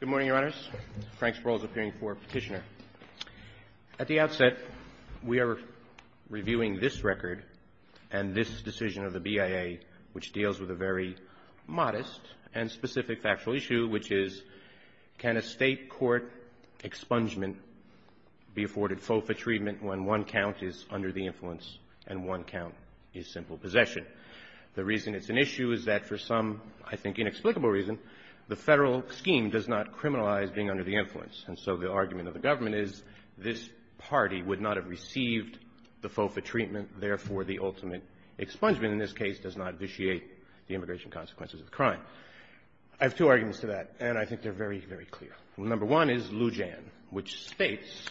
Good morning, Your Honors. Frank Sproul is appearing for petitioner. At the outset, we are reviewing this record and this decision of the BIA, which deals with a very modest and specific factual issue, which is can a State court expungement be afforded FOFA treatment when one count is under the influence and one count is simple possession? The reason does not criminalize being under the influence. And so the argument of the government is this party would not have received the FOFA treatment. Therefore, the ultimate expungement in this case does not vitiate the immigration consequences of the crime. I have two arguments to that, and I think they're very, very clear. Number one is Lujan, which states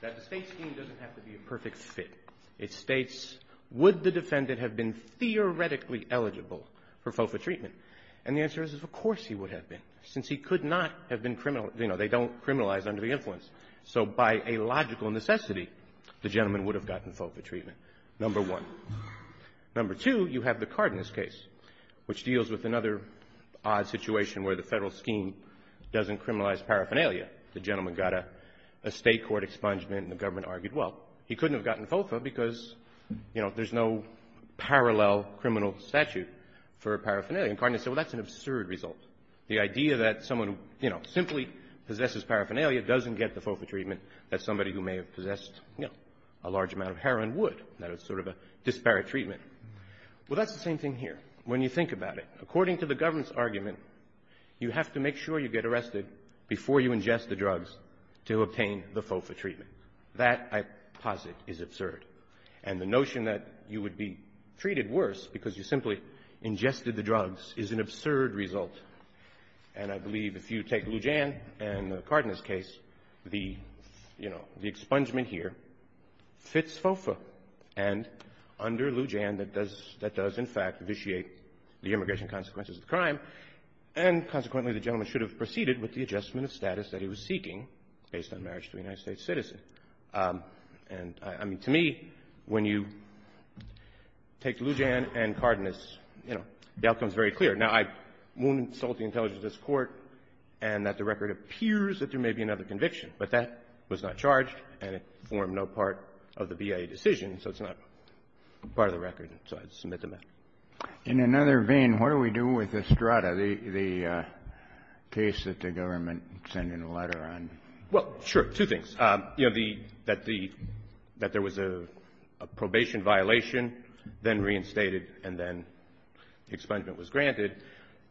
that the State scheme doesn't have to be a perfect fit. It states, would the defendant have been theoretically eligible for FOFA treatment? And the answer is, of course he would have been, since he could not have been criminal — you know, they don't criminalize under the influence. So by a logical necessity, the gentleman would have gotten FOFA treatment, number one. Number two, you have the Cardenas case, which deals with another odd situation where the Federal scheme doesn't criminalize paraphernalia. The gentleman got a State court expungement, and the government argued, well, he couldn't have gotten FOFA because, you know, there's no parallel criminal statute for paraphernalia. And Cardenas said, well, that's an absurd result. The idea that someone, you know, simply possesses paraphernalia doesn't get the FOFA treatment, that somebody who may have possessed, you know, a large amount of heroin would. That is sort of a disparate treatment. Well, that's the same thing here. When you think about it, according to the government's argument, you have to make sure you get arrested before you ingest the drugs to obtain the FOFA treatment. That, I posit, is absurd. And the notion that you would be treated worse because you simply ingested the drugs is an absurd result. And I believe if you take Lou Jan and the Cardenas case, the, you know, the expungement here fits FOFA. And under Lou Jan, that does in fact vitiate the immigration consequences of the crime, and consequently, the gentleman should have proceeded with the adjustment of status that he was seeking based on marriage to a United States citizen. And, I mean, to me, when you take Lou Jan and Cardenas, you know, the outcome is very clear. Now, I won't insult the intelligence of this Court and that the record appears that there may be another conviction, but that was not charged, and it formed no part of the BIA decision, so it's not part of the record, so I submit the matter. In another vein, what do we do with Estrada, the case that the government sent in a letter on? Well, sure. Two things. You know, the — that the — that there was a probation violation, then reinstated, and then expungement was granted,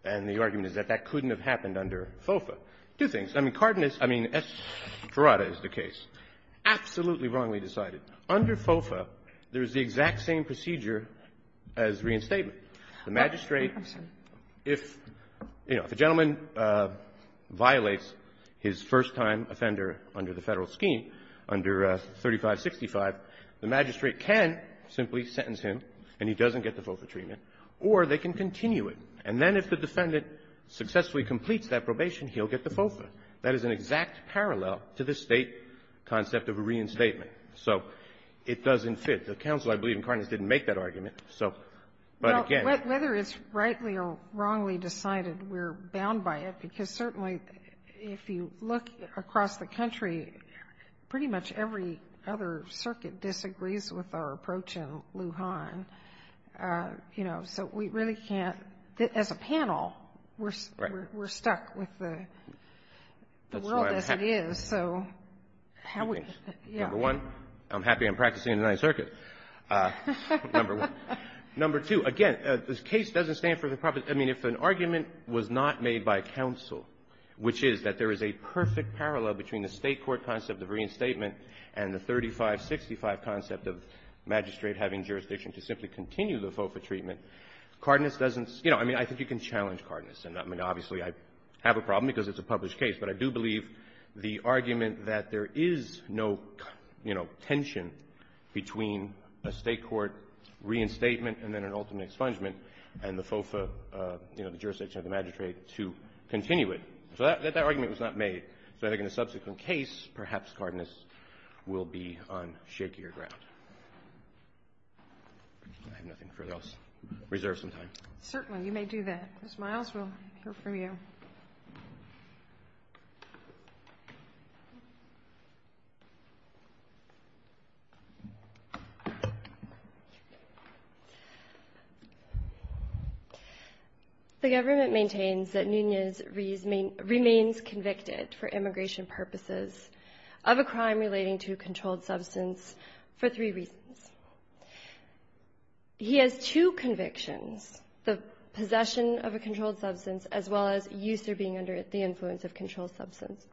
and the argument is that that couldn't have happened under FOFA. Two things. I mean, Cardenas — I mean, Estrada is the case. Absolutely wrongly decided. Under FOFA, there is the exact same procedure as reinstatement. The magistrate — I'm sorry. If, you know, if a gentleman violates his first-time offender under the Federal scheme, under 3565, the magistrate can simply sentence him and he doesn't get the FOFA treatment, or they can continue it. And then if the defendant successfully completes that probation, he'll get the FOFA. That is an exact parallel to the State concept of a reinstatement. So it doesn't fit. The counsel, I believe, in Cardenas didn't make that argument. So, but again — Whether it's rightly or wrongly decided, we're bound by it, because certainly, if you look across the country, pretty much every other circuit disagrees with our approach in Lujan. You know, so we really can't — as a panel, we're stuck with That's why I'm happy to be here. So how we — yeah. Number one, I'm happy I'm practicing in the Ninth Circuit. Number two, again, this case doesn't stand for the proper — I mean, if an argument was not made by counsel, which is that there is a perfect parallel between the State court concept of reinstatement and the 3565 concept of magistrate having jurisdiction to simply continue the FOFA treatment, Cardenas doesn't — you know, I mean, I think you can challenge Cardenas. I mean, obviously, I have a problem because it's a published case, but I do believe the argument that there is no, you know, tension between a State court reinstatement and then an ultimate expungement and the FOFA, you know, the jurisdiction of the magistrate to continue it. So that argument was not made. So I think in a subsequent case, perhaps Cardenas will be on shakier ground. I have nothing further else reserved sometime. Certainly. You may do that. Ms. Miles, we'll hear from you. Thank you. The government maintains that Nunez remains convicted for immigration purposes of a crime relating to a controlled substance for three reasons. He has two convictions, the possession of a controlled substance as well as use or being under the influence of a controlled substance,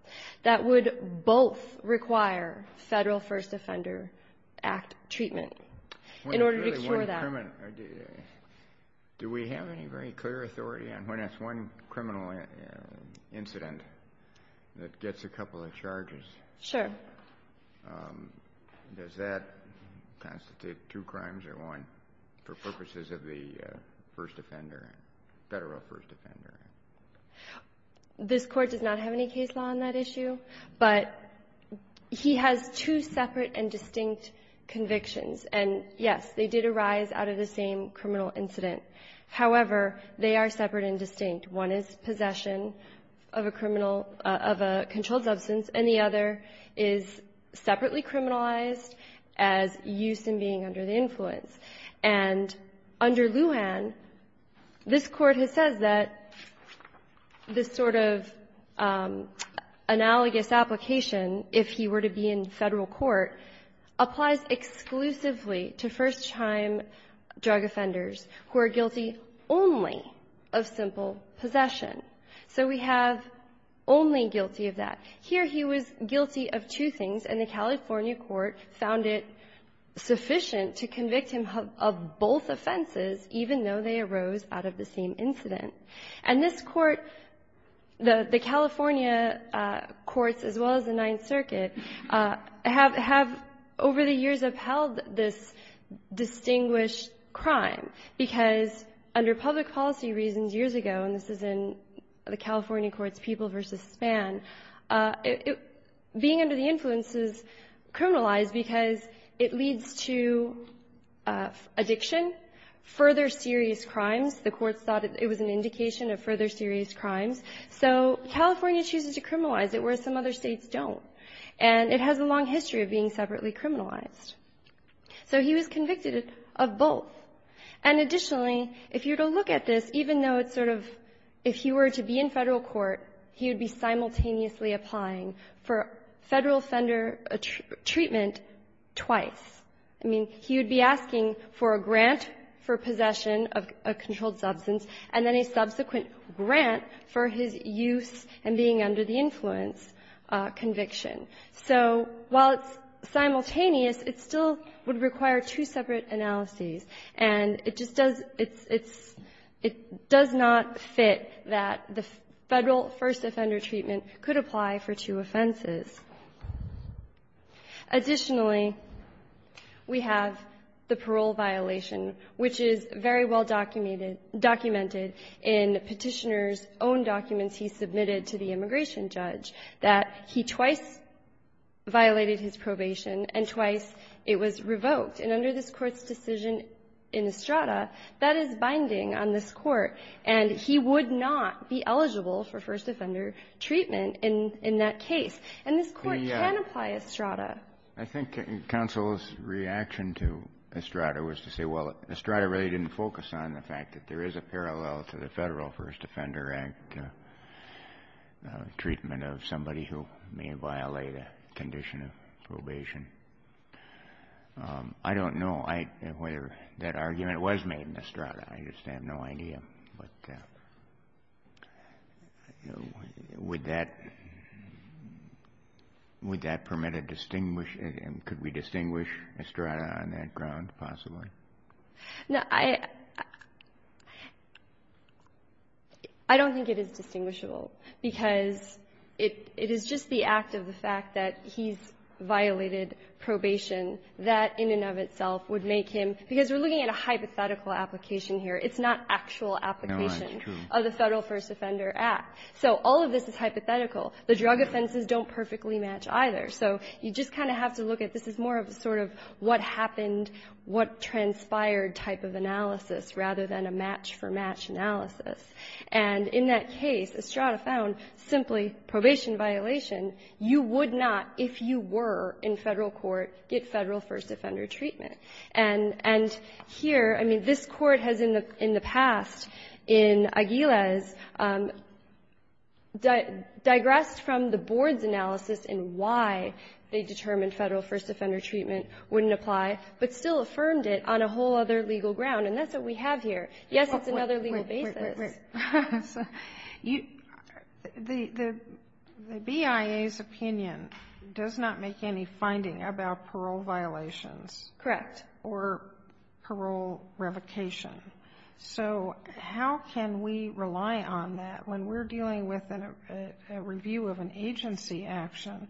that would both require Federal First Offender Act treatment in order to cure that. Do we have any very clear authority on when it's one criminal incident that gets a couple of charges? Sure. Does that constitute two crimes or one for purposes of the First Offender, Federal First Offender Act? This Court does not have any case law on that issue, but he has two separate and distinct convictions. And, yes, they did arise out of the same criminal incident. However, they are separate and distinct. One is possession of a criminal of a controlled substance, and the other is separately criminalized as use and being under the influence. And under Lujan, this Court has said that this sort of analogous application, if he were to be in Federal court, applies exclusively to first-time drug offenders who are guilty only of simple possession. So we have only guilty of that. Here he was guilty of two things, and the California court found it sufficient to convict him of both offenses, even though they arose out of the same incident. And this Court, the California courts as well as the Ninth Circuit, have over the years upheld this distinguished crime, because under public policy reasons years ago, and this is in the California courts, People v. Span, being under the influence is criminalized because it leads to addiction, further serious crimes. The courts thought it was an indication of further serious crimes. So California chooses to criminalize it, whereas some other States don't. And it has a long history of being separately criminalized. So he was convicted of both. And additionally, if you were to look at this, even though it's sort of, if he were to be in Federal court, he would be simultaneously applying for Federal offender treatment twice. I mean, he would be asking for a grant for possession of a controlled substance and then a subsequent grant for his use and being under the influence conviction. So while it's simultaneous, it still would require two separate analyses. And it just does — it's — it does not fit that the Federal first offender treatment could apply for two offenses. Additionally, we have the parole violation, which is very well-documented in Petitioner's own documents he submitted to the immigration judge, that he twice violated his probation and twice it was revoked. And under this Court's decision in Estrada, that is binding on this Court. And he would not be eligible for first offender treatment in that case. And this Court can apply Estrada. I think counsel's reaction to Estrada was to say, well, Estrada really didn't focus on the fact that there is a parallel to the Federal First Offender Act treatment of somebody who may violate a condition of probation. I don't know whether that argument was made in Estrada. I just have no idea. But would that — would that permit a distinguished — could we distinguish Estrada on that ground, possibly? Now, I — I don't think it is distinguishable, because it — it is just the act of the fact that he's violated probation that, in and of itself, would make him — because we're looking at a hypothetical application here. It's not actual application of the Federal First Offender Act. So all of this is hypothetical. The drug offenses don't perfectly match either. So you just kind of have to look at this as more of a sort of what happened, what transpired type of analysis, rather than a match-for-match analysis. And in that case, Estrada found simply probation violation. You would not, if you were in Federal court, get Federal first offender treatment. And — and here, I mean, this Court has in the — in the past, in Aguiles, digressed from the board's analysis in why they determined Federal first offender treatment wouldn't apply, but still affirmed it on a whole other legal ground. And that's what we have here. Yes, it's another legal basis. Wait, wait, wait. You — the BIA's opinion does not make any finding about parole violations. Correct. Or parole revocation. So how can we rely on that when we're dealing with a review of an agency action?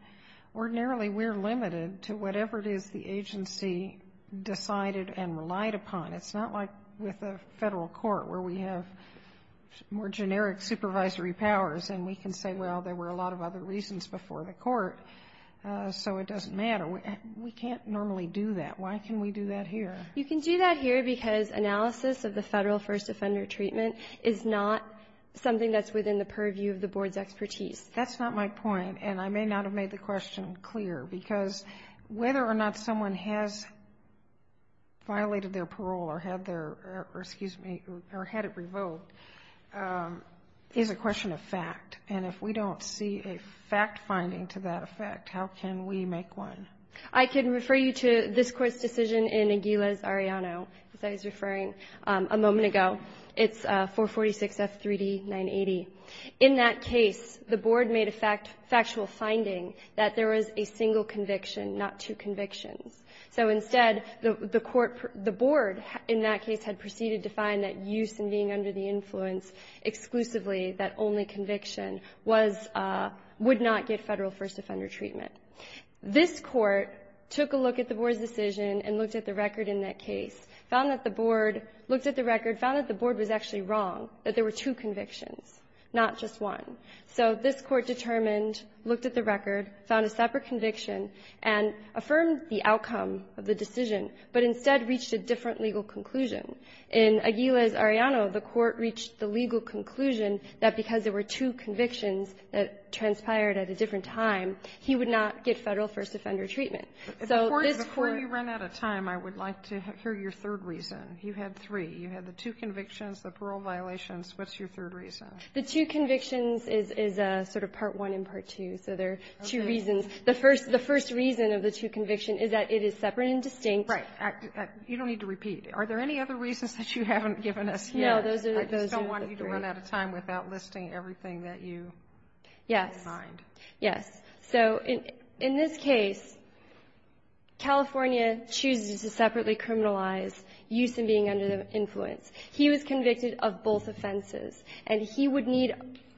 Ordinarily, we're limited to whatever it is the agency decided and relied upon. It's not like with a Federal court, where we have more generic supervisory powers, and we can say, well, there were a lot of other reasons before the court, so it doesn't matter. We can't normally do that. Why can we do that here? You can do that here because analysis of the Federal first offender treatment is not something that's within the purview of the board's expertise. That's not my point. And I may not have made the question clear, because whether or not someone has violated their parole or had their — or, excuse me, or had it revoked, is a question of fact. And if we don't see a fact-finding to that effect, how can we make one? I can refer you to this court's decision in Aguiles-Arellano, as I was referring a moment ago. It's 446F3D980. In that case, the board made a factual finding that there was a single conviction, not two convictions. So instead, the court — the board in that case had proceeded to find that use in being under the influence exclusively that only conviction was — would not get Federal first offender treatment. This court took a look at the board's decision and looked at the record in that case, found that the board — looked at the record, found that the board was actually wrong, that there were two convictions, not just one. So this court determined, looked at the record, found a separate conviction, and affirmed the outcome of the decision, but instead reached a different legal conclusion. In Aguiles-Arellano, the court reached the legal conclusion that because there were two convictions that transpired at a different time, he would not get Federal first offender treatment. So this court — Sotomayor, before you run out of time, I would like to hear your third reason. You had three. You had the two convictions, the parole violations. What's your third reason? The two convictions is — is sort of part one and part two. So there are two reasons. The first — the first reason of the two convictions is that it is separate and distinct. Right. You don't need to repeat. Are there any other reasons that you haven't given us yet? No. Those are the three. I just don't want you to run out of time without listing everything that you have in mind. Yes. So in this case, California chooses to separately criminalize use in being under the influence. He was convicted of both offenses, and he would need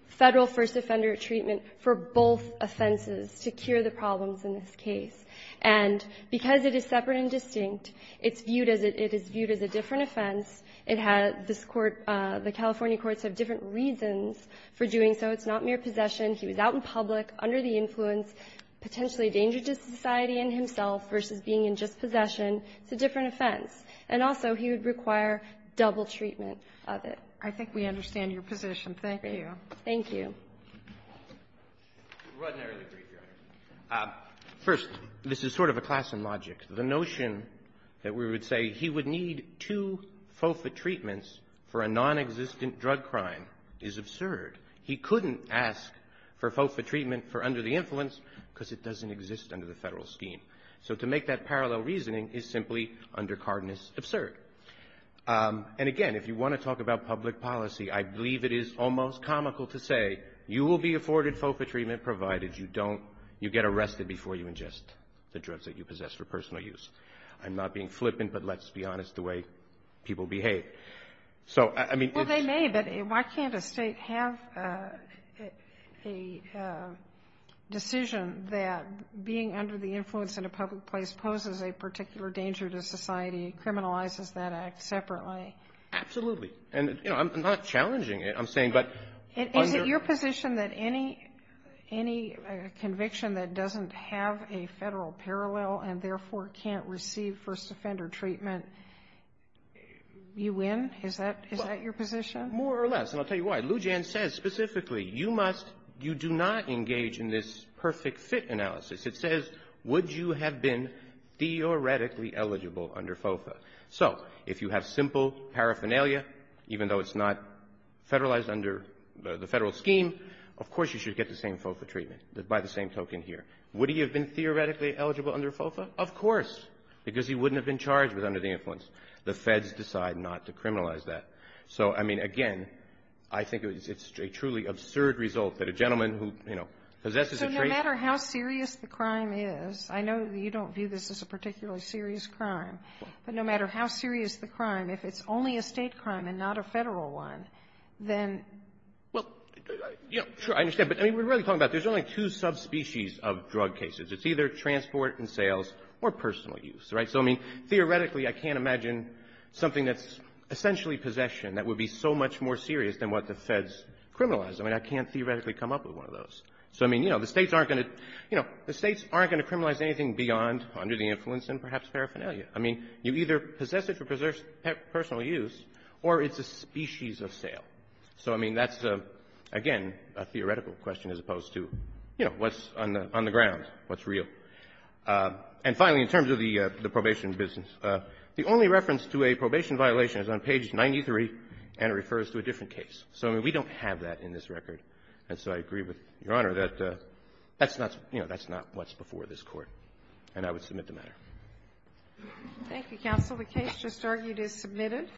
Federal first offender treatment for both offenses to cure the problems in this case. And because it is separate and distinct, it's viewed as a — it is viewed as a different offense. It had this court — the California courts have different reasons for doing so. It's not mere possession. He was out in public, under the influence, potentially a danger to society and himself versus being in just possession. It's a different offense. And also, he would require double treatment of it. I think we understand your position. Thank you. Thank you. First, this is sort of a class in logic. The notion that we would say he would need two FOFA treatments for a nonexistent drug crime is absurd. He couldn't ask for FOFA treatment for under the influence because it doesn't exist under the Federal scheme. So to make that parallel reasoning is simply undercardinous absurd. And again, if you want to talk about public policy, I believe it is almost comical to say you will be afforded FOFA treatment provided you don't — you get arrested before you ingest the drugs that you possess for personal use. I'm not being flippant, but let's be honest the way people behave. So, I mean — Well, they may, but why can't a State have a decision that being under the influence in a public place poses a particular danger to society, criminalizes that act separately? Absolutely. And, you know, I'm not challenging it. I'm saying, but — Is it your position that any — any conviction that doesn't have a Federal parallel and, therefore, can't receive first offender treatment, you win? Is that — is that your position? More or less. And I'll tell you why. Lou Jan says specifically, you must — you do not engage in this perfect fit analysis. It says, would you have been theoretically eligible under FOFA? So if you have simple paraphernalia, even though it's not Federalized under the Federal scheme, of course you should get the same FOFA treatment, by the same token here. Would he have been theoretically eligible under FOFA? Of course, because he wouldn't have been charged with under the influence. The Feds decide not to criminalize that. So, I mean, again, I think it's a truly absurd result that a gentleman who, you know, possesses a — But no matter how serious the crime is, I know that you don't view this as a particularly serious crime, but no matter how serious the crime, if it's only a State crime and not a Federal one, then — Well, you know, sure, I understand. But, I mean, we're really talking about there's only two subspecies of drug cases. It's either transport and sales or personal use. Right? So, I mean, theoretically, I can't imagine something that's essentially possession that would be so much more serious than what the Feds criminalize. I mean, I can't theoretically come up with one of those. So, I mean, you know, the States aren't going to — you know, the States aren't going to criminalize anything beyond under the influence and perhaps paraphernalia. I mean, you either possess it for personal use or it's a species of sale. So, I mean, that's, again, a theoretical question as opposed to, you know, what's on the — on the ground, what's real. And finally, in terms of the probation business, the only reference to a probation violation is on page 93, and it refers to a different case. So, I mean, we don't have that in this record. And so I agree with Your Honor that that's not — you know, that's not what's before this Court, and I would submit the matter. Thank you, counsel. The case just argued is submitted.